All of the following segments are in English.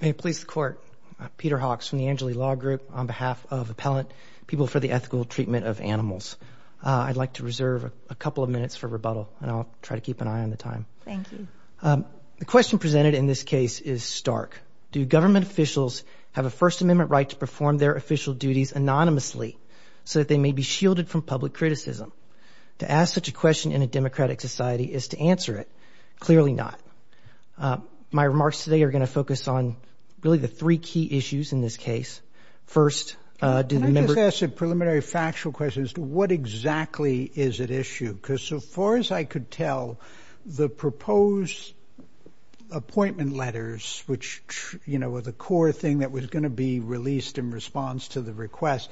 May it please the Court, Peter Hawks from the Angeli Law Group on behalf of Appellant People for the Ethical Treatment of Animals. I'd like to reserve a couple of minutes for rebuttal and I'll try to keep an eye on the time. Thank you. The question presented in this case is stark. Do government officials have a First Amendment right to perform their official duties anonymously so that they may be shielded from public criticism? To ask such a question in a democratic society is to answer it. Clearly not. My remarks today are going to focus on really the three key issues in this case. First, do the member... Can I just ask a preliminary factual question as to what exactly is at issue? Because so far as I could tell, the proposed appointment letters, which, you know, were the core thing that was going to be released in response to the request,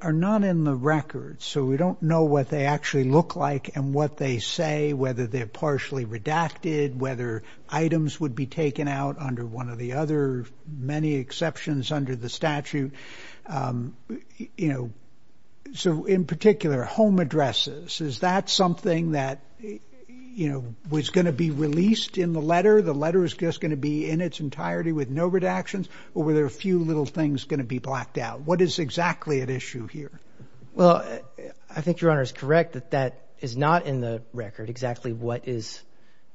are not in the record. So we don't know what they actually look like and what they say, whether they're partially redacted, whether items would be taken out under one of the other many exceptions under the statute. You know, so in particular, home addresses, is that something that, you know, was going to be released in the letter? The letter is just going to be in its entirety with no redactions? Or were there a few little things going to be blacked out? What is exactly at issue here? Well, I think your Honor is correct that that is not in the record, exactly what is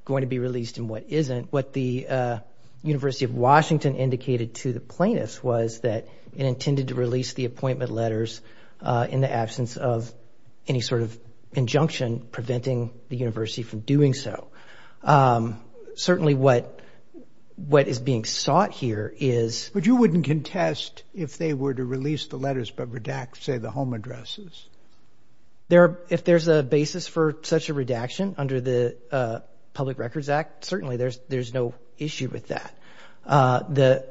going to be released and what isn't. What the University of Washington indicated to the plaintiffs was that it intended to release the appointment letters in the absence of any sort of injunction preventing the university from doing so. Certainly what is being sought here is... But you wouldn't contest if they were to release the letters but redact, say, the home addresses? If there's a basis for such a redaction under the Public Records Act, certainly there's no issue with that.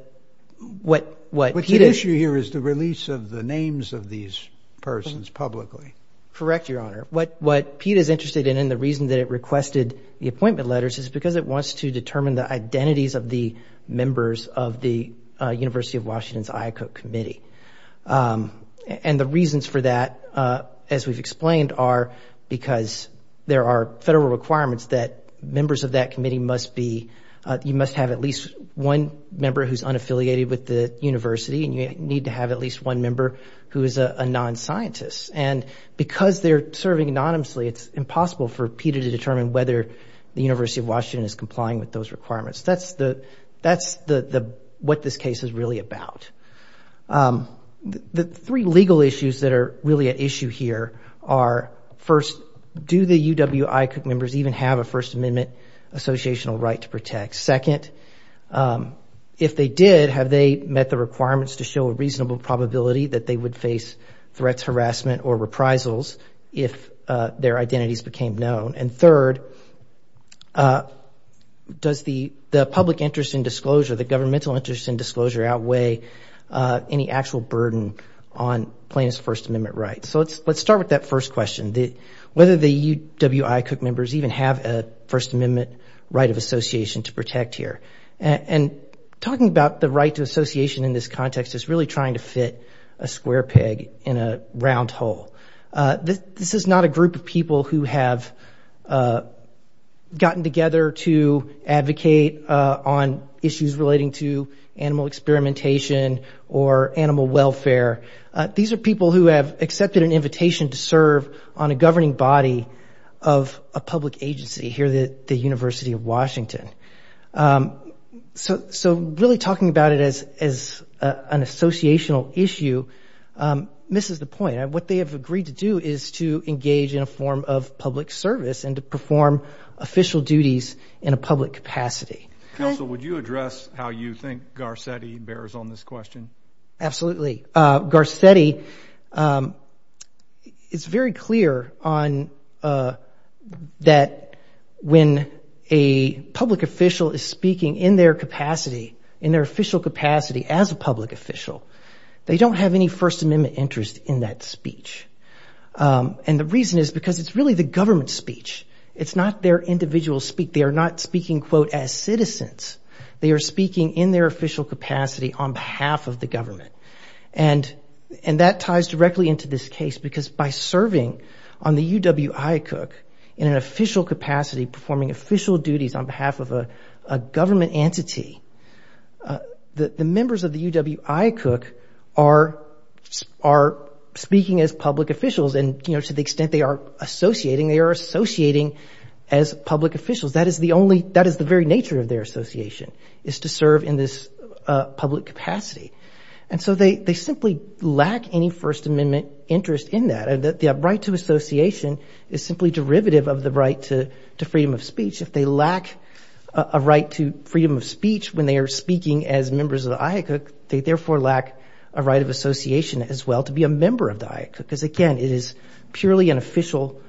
What's at issue here is the release of the names of these persons publicly. Correct, your Honor. What PETA is interested in and the reason that it requested the appointment letters is because it wants to determine the identities of the members of the University of Washington's IACUC committee. And the reasons for that, as we've explained, are because there are federal requirements that members of that committee must be... You must have at least one member who's unaffiliated with the university and you need to have at least one member who is a non-scientist. And because they're serving anonymously, it's impossible for PETA to determine whether the University of Washington is complying with those requirements. That's what this case is really about. The three legal issues that are really at issue here are, first, do the UW IACUC members even have a First Amendment associational right to protect? Second, if they did, have they met the requirements to show a reasonable probability that they would face threats, harassment, or reprisals if their identities became known? And third, does the public interest in disclosure, the governmental interest in disclosure, outweigh any actual burden on plaintiff's First Amendment rights? So let's start with that first question. Whether the UW IACUC members even have a First Amendment right of association to protect here? And talking about the right to association in this context is really trying to fit a square peg in a round hole. This is not a group of people who have gotten together to advocate on issues relating to animal experimentation or animal welfare. These are people who have accepted an invitation to serve on a governing body of a public agency here at the University of Washington. So really talking about it as an associational issue misses the point. What they have agreed to do is to engage in a form of public service and to perform official duties in a public capacity. Counsel, would you address how you think Garcetti bears on this question? Absolutely. Garcetti, it's very clear that when a public official is speaking in their capacity, in their official capacity as a public official, they don't have any First Amendment interest in that speech. And the reason is because it's really the government's speech. It's not their individual speech. They are not speaking, quote, as citizens. They are speaking in their official capacity on behalf of the government. And that ties directly into this case because by serving on the UW IACUC in an official capacity, performing official duties on behalf of a government entity, the members of the UW IACUC are speaking as public officials and, you know, to the extent they are associating, they are associating as public officials. That is the only, that is the very nature of their association, is to serve in this public capacity. And so they simply lack any First Amendment interest in that. The right to association is simply derivative of the right to freedom of speech. If they lack a right to freedom of speech when they are speaking as members of the IACUC, they therefore lack a right of association as well to be a member of the IACUC because, again, it is purely an official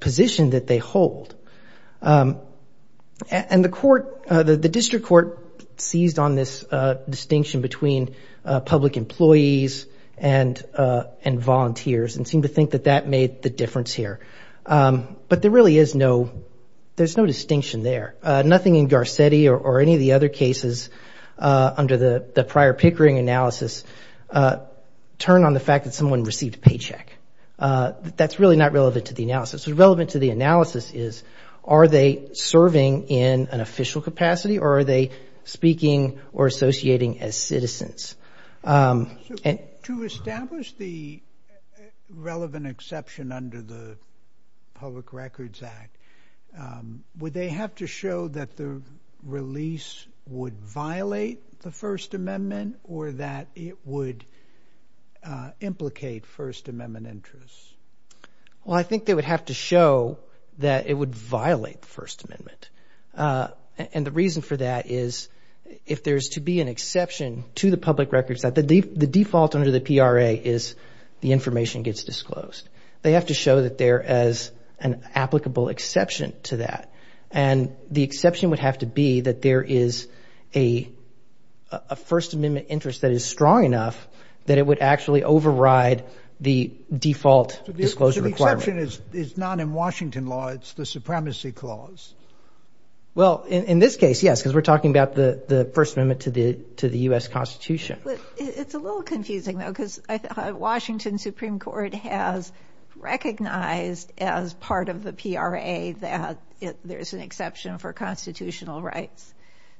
position that they hold. And the court, the district court seized on this distinction between public employees and volunteers and seemed to think that that made the difference here. But there really is no, there's no distinction there. Nothing in Garcetti or any of the other cases under the prior Pickering analysis turned on the fact that someone received a paycheck. That's really not what the analysis is. Are they serving in an official capacity or are they speaking or associating as citizens? To establish the relevant exception under the Public Records Act, would they have to show that the release would violate the First Amendment or that it would implicate First Amendment interest? Well, I think they would have to show that it would violate the First Amendment. And the reason for that is if there's to be an exception to the Public Records Act, the default under the PRA is the information gets disclosed. They have to show that there is an applicable exception to that. And the exception would have to be that there is a First Amendment interest that is strong enough that it would actually override the default disclosure requirement. So the exception is not in Washington law, it's the Supremacy Clause. Well, in this case, yes, because we're talking about the First Amendment to the to the U.S. Constitution. It's a little confusing, though, because Washington Supreme Court has recognized as part of the PRA that there's an exception for constitutional rights.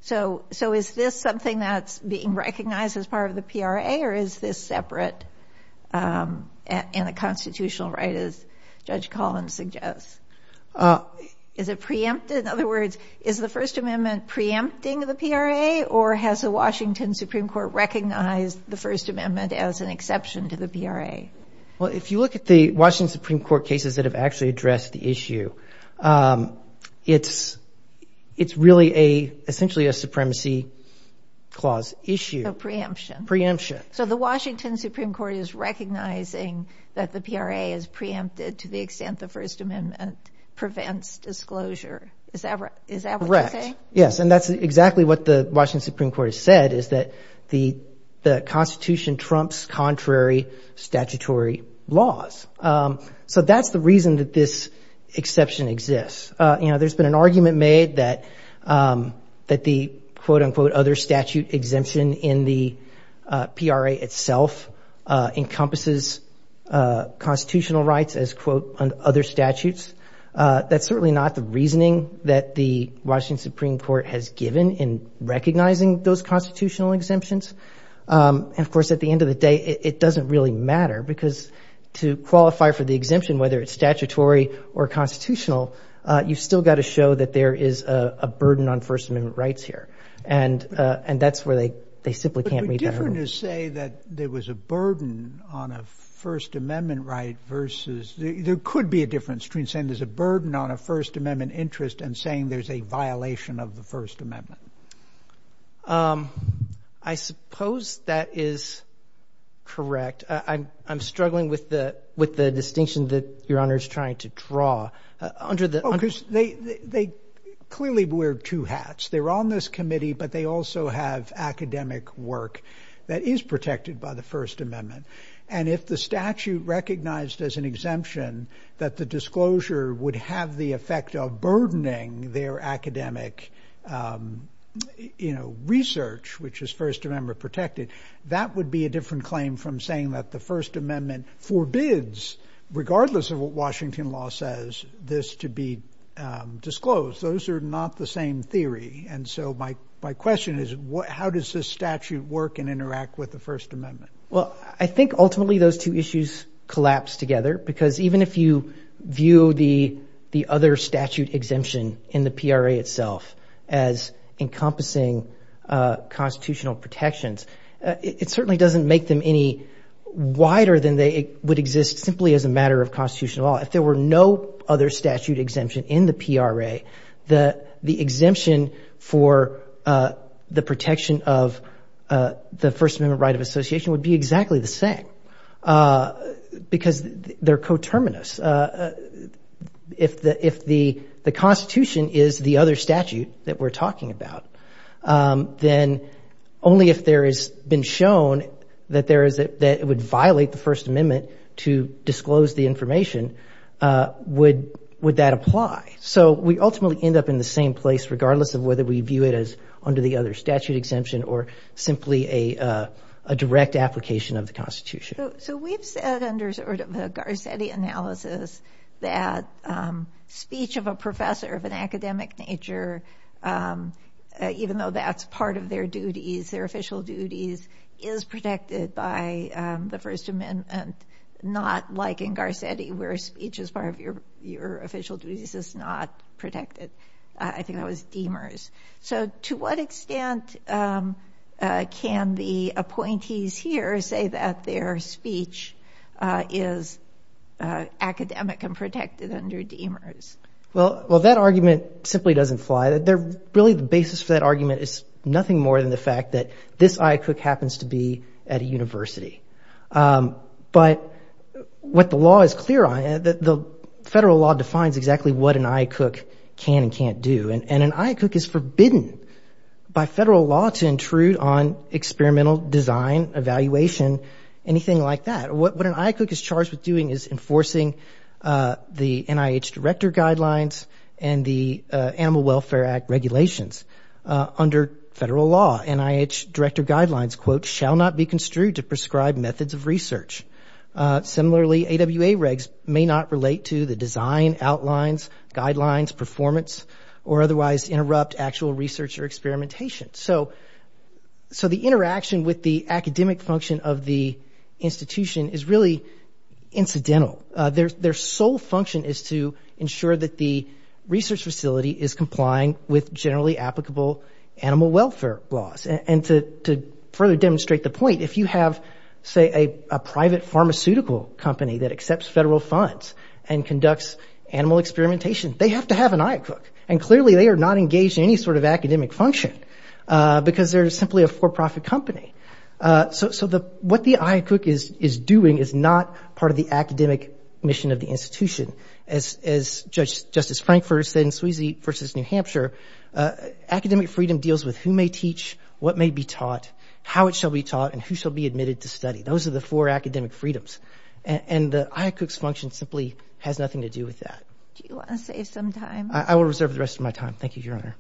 So is this something that's being recognized as part of the PRA or is this separate in a constitutional right, as Judge Collins suggests? Is it preempted? In other words, is the First Amendment preempting the PRA or has the Washington Supreme Court recognized the First Amendment as an exception to the PRA? Well, if you look at the Washington Supreme Court cases that have actually addressed the issue, it's it's really a essentially a Supremacy Clause issue. So preemption. So the Washington Supreme Court is recognizing that the PRA is preempted to the extent the First Amendment prevents disclosure. Is that right? Yes, and that's exactly what the Washington Supreme Court has said is that the the Constitution trumps contrary statutory laws. So that's the reason that this exception exists. You know, there's been an argument made that that the quote unquote other statute exemption in the PRA itself encompasses constitutional rights as, quote, under other statutes. That's certainly not the reasoning that the Washington Supreme Court has given in recognizing those constitutional exemptions. And of course, at the end of the day, it doesn't really matter because to qualify for the exemption, whether it's statutory or constitutional, you've still got to show that there is a burden on First Amendment rights here. And and that's where they they simply can't read that rule. But would it be different to say that there was a burden on a First Amendment right versus there could be a difference between saying there's a burden on a First Correct. I'm I'm struggling with the with the distinction that your honor is trying to draw under the focus. They clearly wear two hats. They're on this committee, but they also have academic work that is protected by the First Amendment. And if the statute recognized as an exemption that the disclosure would have the effect of burdening their academic, you know, research, which is First Amendment protected, that would be a different claim from saying that the First Amendment forbids, regardless of what Washington law says, this to be disclosed. Those are not the same theory. And so my my question is, how does this statute work and interact with the First Amendment? Well, I think ultimately those two issues collapse together, because even if you view the the other statute exemption in the PRA itself as encompassing constitutional protections, it certainly doesn't make them any wider than they would exist simply as a matter of constitutional law. If there were no other statute exemption in the PRA, the the exemption for the protection of the First Amendment right of association would be exactly the same, because they're coterminous. If the if the the Constitution is the other statute that we're talking about, then only if there has been shown that there is that it would violate the First Amendment to disclose the information would would that apply? So we ultimately end up in the same place, regardless of whether we view it as under the other statute exemption or simply a direct application of the analysis, that speech of a professor of an academic nature, even though that's part of their duties, their official duties, is protected by the First Amendment, and not like in Garcetti, where speech is part of your your official duties is not protected. I academic and protected under DEMERS. Well, well, that argument simply doesn't fly that they're really the basis for that argument is nothing more than the fact that this IACUC happens to be at a university. But what the law is clear on that the federal law defines exactly what an IACUC can and can't do. And an IACUC is forbidden by federal law to intrude on experimental design, evaluation, anything like that. What an IACUC is charged with doing is enforcing the NIH director guidelines and the Animal Welfare Act regulations under federal law. NIH director guidelines, quote, shall not be construed to prescribe methods of research. Similarly, AWA regs may not relate to the design, outlines, guidelines, performance, or otherwise interrupt actual research or experimentation. So so the interaction with the academic function of the institution is really incidental. Their sole function is to ensure that the research facility is complying with generally applicable animal welfare laws. And to further demonstrate the point, if you have, say, a private pharmaceutical company that accepts federal funds and conducts animal experimentation, they have to have an IACUC. And clearly they are not engaged in any sort of academic function because they're simply a for doing is not part of the academic mission of the institution. As Judge Justice Frankfurter said in Sweezy v. New Hampshire, academic freedom deals with who may teach, what may be taught, how it shall be taught, and who shall be admitted to study. Those are the four academic freedoms. And the IACUC's function simply has nothing to do with that. Do you want to save some time? I will reserve the rest of my time. Thank you, Your Honor.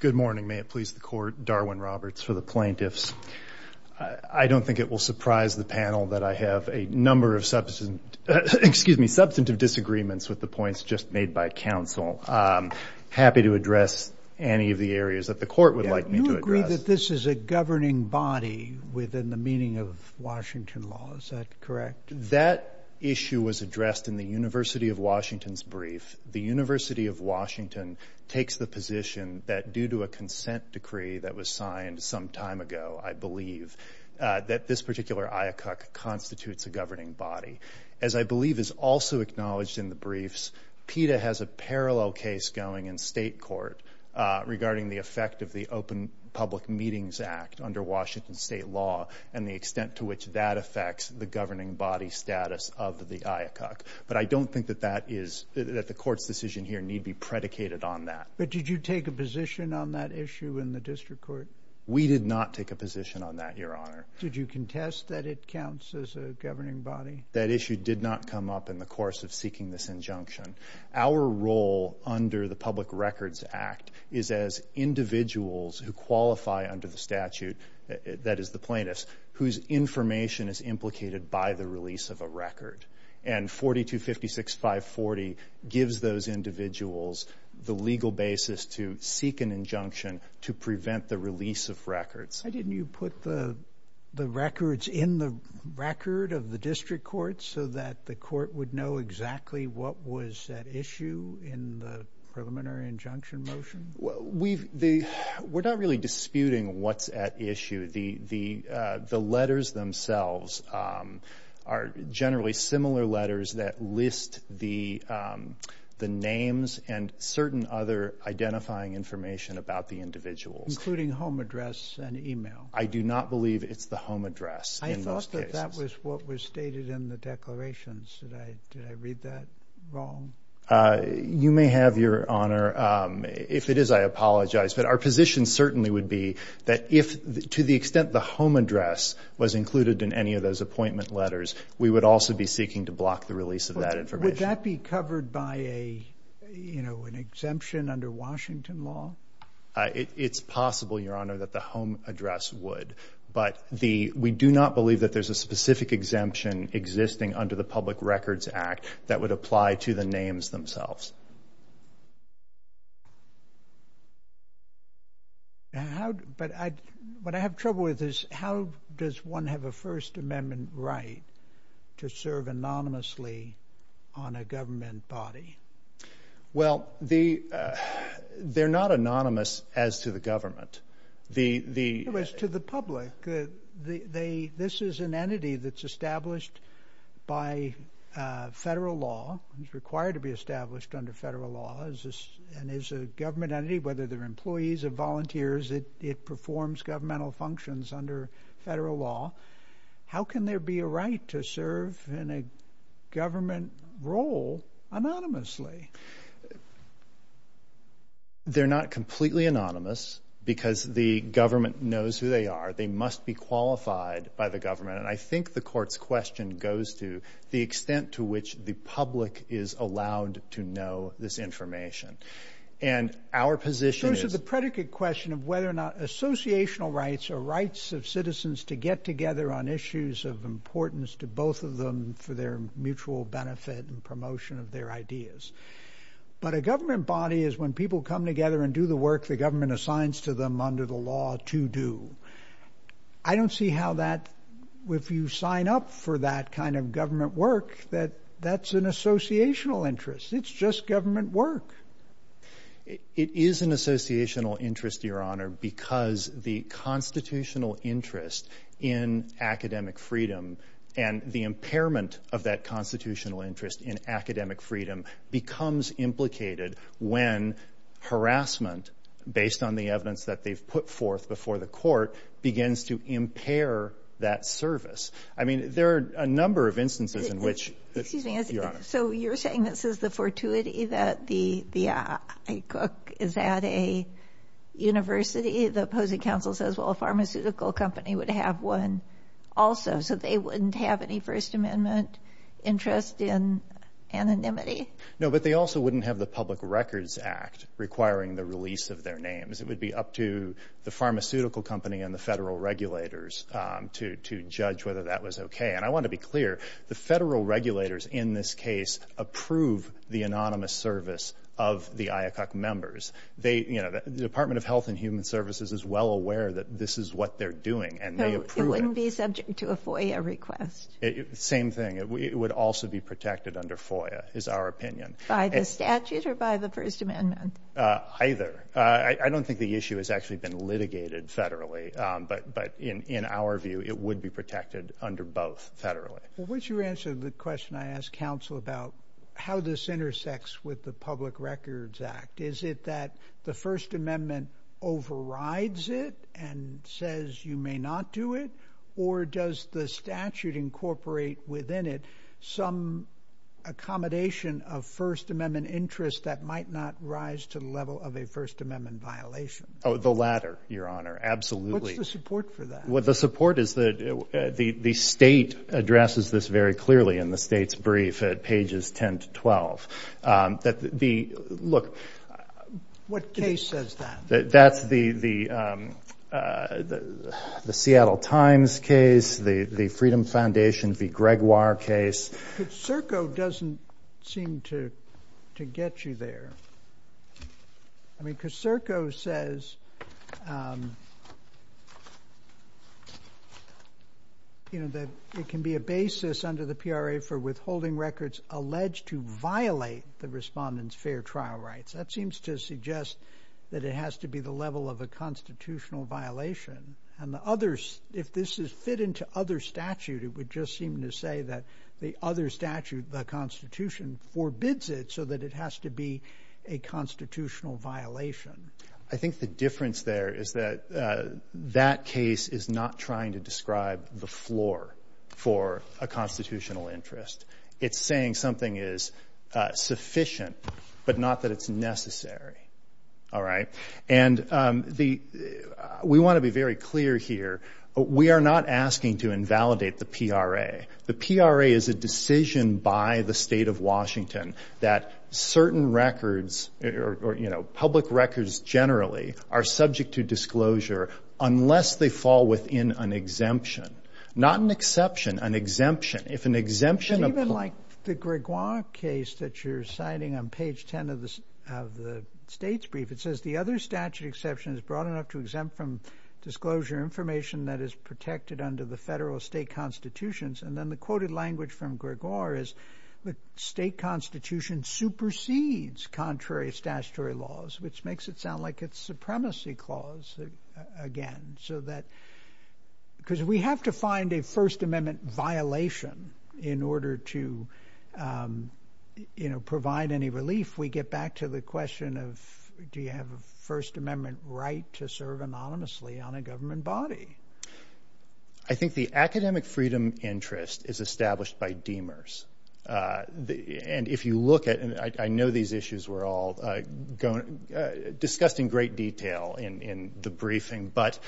Good morning. May it please the court. Darwin Roberts for the plaintiffs. I don't think it will surprise the panel that I have a number of substantive disagreements with the points just made by counsel. I'm happy to address any of the areas that the court would like me to address. I believe that this is a governing body within the meaning of Washington law. Is that correct? That issue was addressed in the University of Washington's brief. The University of Washington takes the position that due to a consent decree that was signed some time ago, I believe, that this particular IACUC constitutes a governing body. As I believe is also acknowledged in the briefs, PETA has a under Washington state law and the extent to which that affects the governing body status of the IACUC. But I don't think that that is, that the court's decision here need be predicated on that. But did you take a position on that issue in the district court? We did not take a position on that, Your Honor. Did you contest that it counts as a governing body? That issue did not come up in the course of seeking this injunction. Our role under the statute, that is the plaintiff's, whose information is implicated by the release of a record. And 4256540 gives those individuals the legal basis to seek an injunction to prevent the release of records. Why didn't you put the records in the record of the district court so that the court would know exactly what was at issue in the preliminary injunction motion? We've, we're not really disputing what's at issue. The letters themselves are generally similar letters that list the names and certain other identifying information about the individuals. Including home address and email? I do not believe it's the wrong. You may have, Your Honor. If it is, I apologize. But our position certainly would be that if, to the extent the home address was included in any of those appointment letters, we would also be seeking to block the release of that information. Would that be covered by a, you know, an exemption under Washington law? It's possible, Your Honor, that the home address would. But the, we do not believe that there's a specific exemption existing under the Public Records Act that would apply to the names themselves. Now, how, but I, what I have trouble with is how does one have a First Amendment right to serve anonymously on a government body? Well, the, they're not anonymous as to the government. The, the. It was to the public. The, they, this is an entity that's established by federal law. It's required to be established under federal law. Is this, and is a government entity, whether they're employees or volunteers, it, it performs governmental functions under federal law. How can there be a right to serve in a government role anonymously? They're not completely anonymous because the government knows who they are. They must be qualified by the government. And I think the court's question goes to the extent to which the public is allowed to know this information. And our position is. So, so the predicate question of whether or not associational rights are rights of citizens to get together on issues of importance to both of them for their But a government body is when people come together and do the work the government assigns to them under the law to do. I don't see how that, if you sign up for that kind of government work, that that's an associational interest. It's just government work. It is an associational interest, Your Honor, because the constitutional interest in academic freedom and the impairment of that constitutional interest in when harassment, based on the evidence that they've put forth before the court, begins to impair that service. I mean, there are a number of instances in which Excuse me. So you're saying this is the fortuity that the, the IACUC is at a university? The opposing counsel says, well, a pharmaceutical company would have one also, so they wouldn't have any First Amendment interest in anonymity? No, but they also wouldn't have the Public Records Act requiring the release of their names. It would be up to the pharmaceutical company and the federal regulators to, to judge whether that was okay. And I want to be clear, the federal regulators in this case approve the anonymous service of the IACUC members. They, you know, the Department of Health and Human Services is well aware that this is what they're doing, and they approve it. So it wouldn't be subject to a FOIA request? Same thing. It would also be protected under FOIA, is our opinion. By the statute or by the First Amendment? Either. I don't think the issue has actually been litigated federally, but, but in, in our view, it would be protected under both federally. Well, once you answer the question I asked counsel about how this intersects with the Public Records Act, is it that the First Amendment overrides it and says you may not do it? Or does the statute incorporate within it some accommodation of First Amendment interest that might not rise to the level of a First Amendment violation? Oh, the latter, Your Honor. Absolutely. What's the support for that? Well, the support is that the state addresses this very clearly in the state's brief at pages 10 to 12. That the, look. What case says that? That's the, the, the Seattle Times case, the Freedom Foundation v. Gregoire case. Coserco doesn't seem to, to get you there. I mean, Coserco says, you know, that it can be a basis under the PRA for withholding records alleged to violate the respondent's fair trial rights. That seems to suggest that it has to be the level of a constitutional violation. And the others, if this is fit into other statute, it would just seem to say that the other statute, the Constitution, forbids it so that it has to be a constitutional violation. I think the difference there is that that case is not trying to describe the floor for a constitutional interest. It's saying something is sufficient, but not that it's necessary. All right? And the, we want to be very clear here. We are not asking to invalidate the PRA. The PRA is a decision by the state of Washington that certain records, or, you know, public records generally, are subject to disclosure unless they fall within an exemption. Not an exception, an exemption. It's even like the Gregoire case that you're citing on page 10 of the state's brief. It says the other statute exception is broad enough to exempt from disclosure information that is protected under the federal state constitutions. And then the quoted language from Gregoire is the state constitution supersedes contrary statutory laws, which makes it sound like it's supremacy clause again. So that, because we have to find a First Amendment violation in order to, you know, provide any relief. We get back to the question of do you have a First Amendment right to serve anonymously on a government body? I think the academic freedom interest is established by Demers. And if you look at, and I know these issues were all discussed in great detail in the briefing, but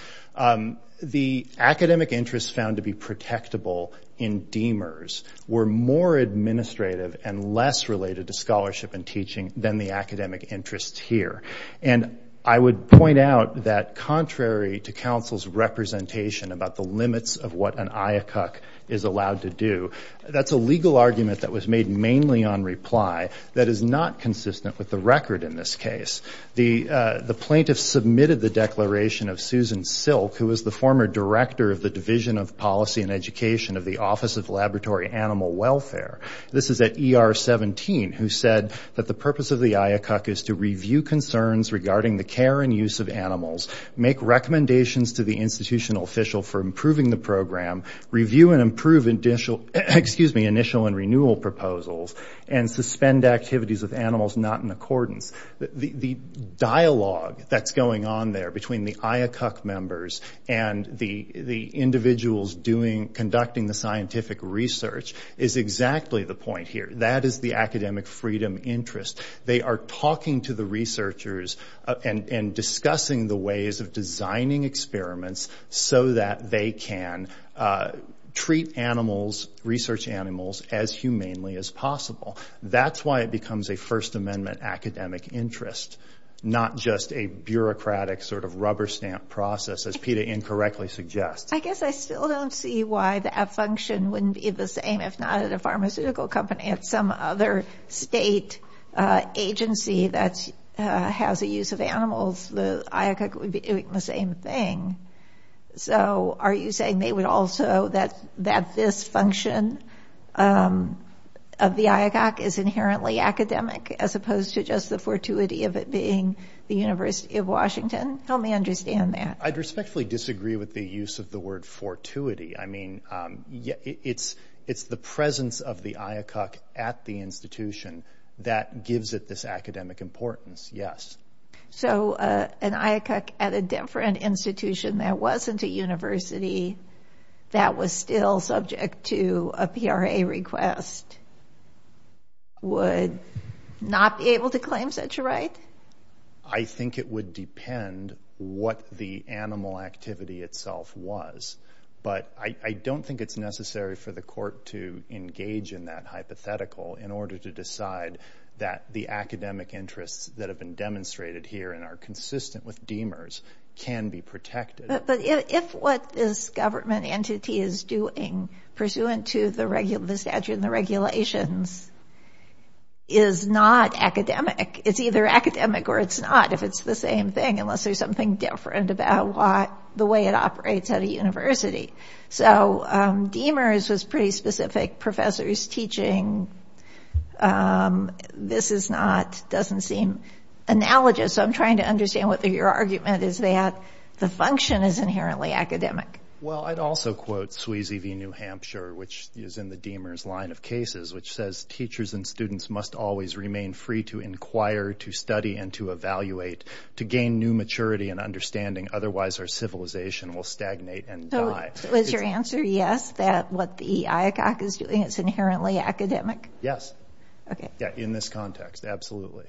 the academic interests found to be protectable in Demers were more administrative and less related to scholarship and teaching than the academic interests here. And I would point out that contrary to counsel's representation about the limits of what an IACUC is allowed to do, that's a legal argument that was made mainly on reply that is not consistent with the record in this case. The plaintiffs submitted the declaration of Susan Silk, who was the former director of the Division of Policy and Education of the Office of Laboratory Animal Welfare. This is at ER 17, who said that the purpose of the IACUC is to review concerns regarding the care and use of animals, make recommendations to the institutional official for improving the program, review and improve initial and renewal proposals, and suspend activities of animals not in accordance. The dialogue that's going on there between the IACUC members and the individuals conducting the scientific research is exactly the point here. That is the academic freedom interest. They are talking to the researchers and discussing the ways of designing experiments so that they can treat animals, research animals, as humanely as possible. That's why it becomes a First Amendment academic interest, not just a bureaucratic sort of rubber stamp process as PETA incorrectly suggests. I guess I still don't see why that function wouldn't be the same, if not at a pharmaceutical company at some other state agency that has a use of animals, the IACUC would be doing the same thing. So are you saying they would also, that this function of the IACUC is inherently academic, as opposed to just the fortuity of it being the University of Washington? Help me understand that. I'd respectfully disagree with the use of the word fortuity. I mean, it's the presence of the IACUC at the institution that gives it this academic importance, yes. So an IACUC at a different institution that wasn't a university that was still subject to a PRA request would not be able to claim such a right? I think it would depend what the animal activity itself was. But I don't think it's necessary for the court to engage in that hypothetical in order to decide that the academic interests that have been demonstrated here and are consistent with Demers can be protected. But if what this government entity is doing, pursuant to the statute and the regulations, is not academic, it's either academic or it's not, if it's the same thing, unless there's something different about the way it operates at a university. So Demers was pretty specific. Professors teaching this is not, doesn't seem analogous. So I'm trying to understand whether your argument is that the function is inherently academic. Well, I'd also quote Sweezy v. New Hampshire, which is in the Demers line of cases, which says teachers and students must always remain free to inquire, to study, and to evaluate, to gain new maturity and understanding, otherwise our civilization will stagnate and die. So is your answer yes, that what the IACUC is doing is inherently academic? Yes. Okay. Yeah, in this context, absolutely.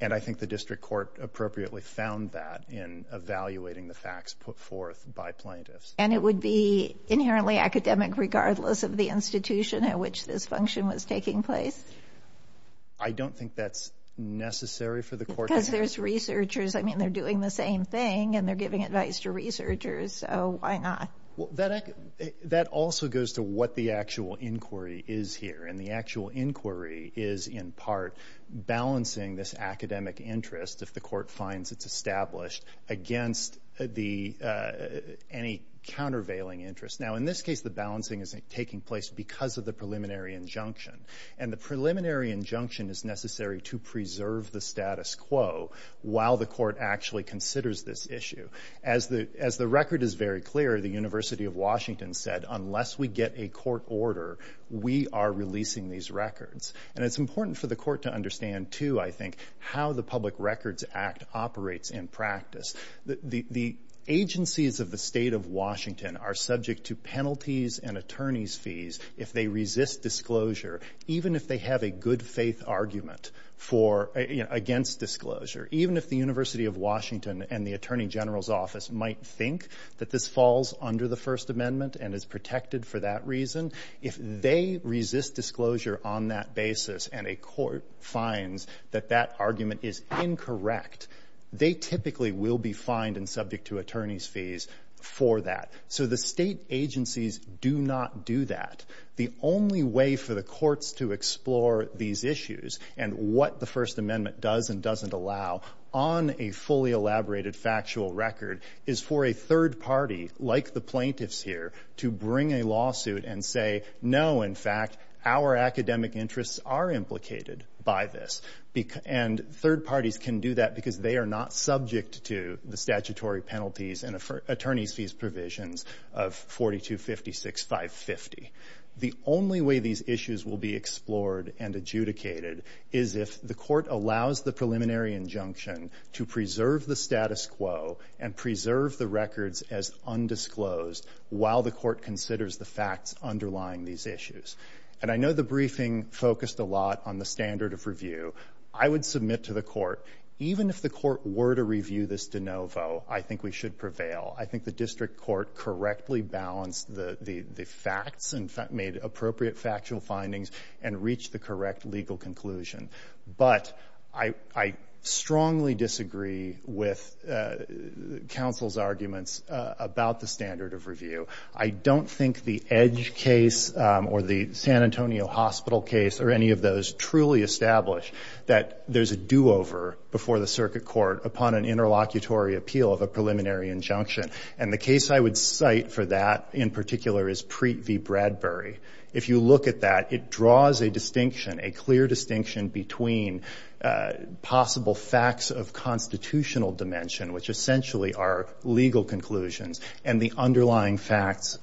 And I think the district court appropriately found that in evaluating the facts put forth by plaintiffs. And it would be inherently academic regardless of the institution at which this function was taking place? I don't think that's necessary for the court to do. Because there's researchers. I mean, they're doing the same thing and they're giving advice to researchers, so why not? That also goes to what the actual inquiry is here, and the actual inquiry is in part balancing this academic interest, if the court finds it's established, against any countervailing interest. Now, in this case, the balancing is taking place because of the preliminary injunction. And the preliminary injunction is necessary to preserve the status quo while the court actually considers this issue. As the record is very clear, the University of Washington said, unless we get a court order, we are releasing these records. And it's important for the court to understand, too, I think, how the Public Records Act operates in practice. The agencies of the State of Washington are subject to penalties and attorney's fees if they resist disclosure, even if they have a good-faith argument against disclosure, even if the University of Washington and the Attorney General's Office might think that this falls under the First Amendment and is protected for that reason. If they resist disclosure on that basis and a court finds that that argument is incorrect, they typically will be fined and subject to attorney's fees for that. So the state agencies do not do that. The only way for the courts to explore these issues and what the First Amendment does and doesn't allow on a fully elaborated factual record is for a third party, like the plaintiffs here, to bring a lawsuit and say, no, in fact, our academic interests are implicated by this. And third parties can do that because they are not subject to the statutory penalties and attorney's fees provisions of 4256.550. The only way these issues will be explored and adjudicated is if the court allows the preliminary injunction to preserve the status quo and preserve the records as undisclosed while the court considers the facts underlying these issues. And I know the briefing focused a lot on the standard of review. I would submit to the court, even if the court were to review this de novo, I think we should prevail. I think the district court correctly balanced the facts and made appropriate factual findings and reached the correct legal conclusion. But I strongly disagree with counsel's arguments about the standard of review. I don't think the Edge case or the San Antonio hospital case or any of those truly establish that there's a do-over before the circuit court upon an interlocutory appeal of a preliminary injunction. And the case I would cite for that in particular is Preet v. Bradbury. If you look at that, it draws a distinction, a clear distinction, between possible facts of constitutional dimension, which essentially are legal conclusions, and the underlying facts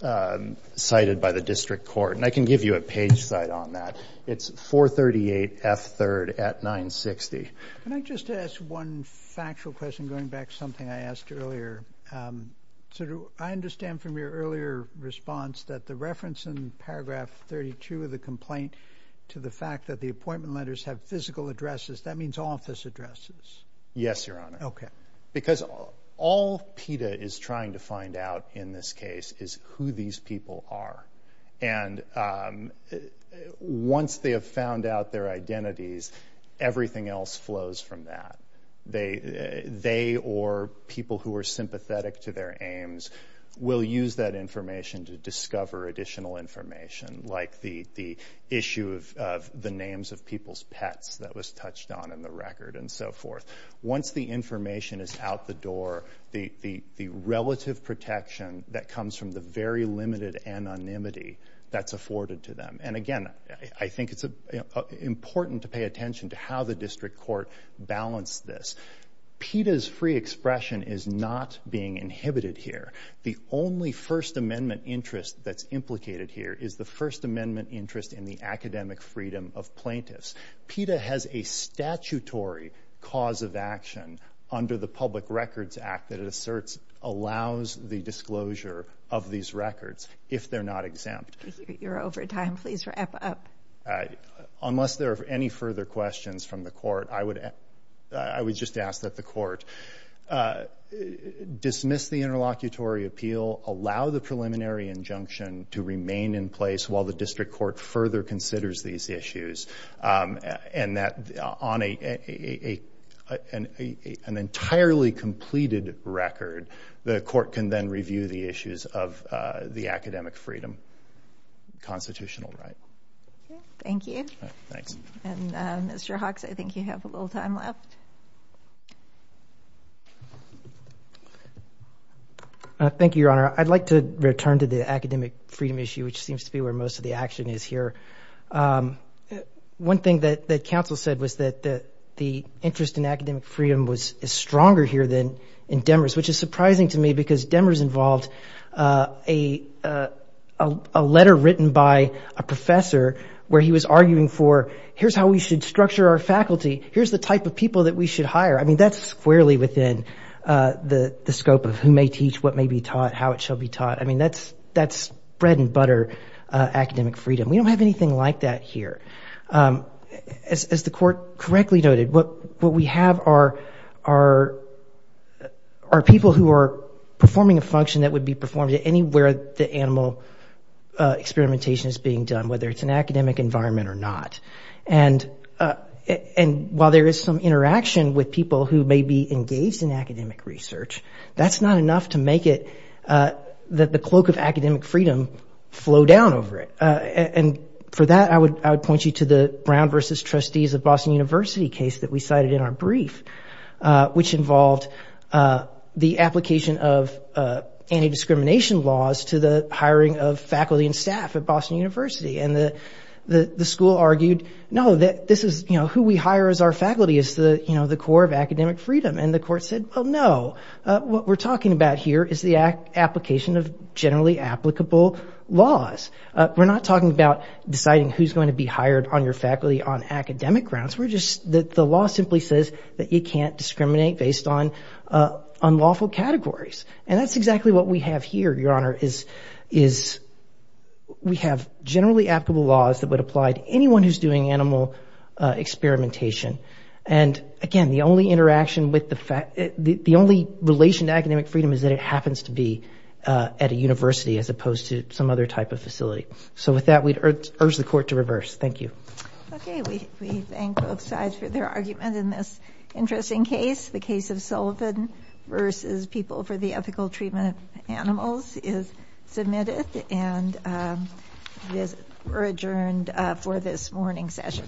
cited by the district court. And I can give you a page site on that. It's 438F3rd at 960. Can I just ask one factual question going back to something I asked earlier? I understand from your earlier response that the reference in paragraph 32 of the complaint to the fact that the appointment letters have physical addresses, that means office addresses. Yes, Your Honor. Okay. Because all PETA is trying to find out in this case is who these people are. And once they have found out their identities, everything else flows from that. They or people who are sympathetic to their aims will use that information to discover additional information, like the issue of the names of people's pets that was touched on in the record and so forth. Once the information is out the door, the relative protection that comes from the very limited anonymity that's afforded to them. And again, I think it's important to pay attention to how the district court balanced this. PETA's free expression is not being inhibited here. The only First Amendment interest that's implicated here is the First Amendment interest in the academic freedom of plaintiffs. PETA has a statutory cause of action under the Public Records Act that it asserts allows the disclosure of these records if they're not exempt. You're over time. Please wrap up. Unless there are any further questions from the court, I would just ask that the court dismiss the interlocutory appeal, allow the preliminary injunction to remain in place while the district court further considers these issues. And that on an entirely completed record, the court can then review the issues of the academic freedom constitutional right. Thank you. Thanks. And Mr. Hawks, I think you have a little time left. Thank you, Your Honor. I'd like to return to the academic freedom issue, which seems to be where most of the action is here. One thing that counsel said was that the interest in academic freedom was stronger here than in Demers, which is surprising to me because Demers involved a letter written by a professor where he was arguing for, here's how we should structure our faculty. Here's the type of people that we should hire. I mean, that's squarely within the scope of who may teach, what may be taught, how it shall be taught. I mean, that's bread and butter academic freedom. We don't have anything like that here. As the court correctly noted, what we have are people who are performing a function that would be performed anywhere the animal experimentation is being done, whether it's an academic environment or not. And while there is some interaction with people who may be engaged in academic research, that's not enough to make it that the cloak of academic freedom flow down over it. And for that, I would point you to the Brown versus Trustees of Boston University case that we cited in our brief, which involved the application of anti-discrimination laws to the hiring of faculty and staff at Boston University. And the school argued, no, who we hire as our faculty is the core of academic freedom. And the court said, well, no, what we're talking about here is the application of generally applicable laws. We're not talking about deciding who's going to be hired on your faculty on academic grounds. The law simply says that you can't discriminate based on unlawful categories. And that's exactly what we have here, Your Honor, is we have generally applicable laws that would apply to anyone who's doing animal experimentation. And again, the only interaction with the fact, the only relation to academic freedom is that it happens to be at a university as opposed to some other type of facility. So with that, we'd urge the court to reverse. Thank you. Okay, we thank both sides for their argument in this interesting case. The case of Sullivan versus People for the Ethical Treatment of Animals is submitted. And we're adjourned for this morning session.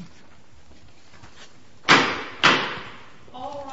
All rise.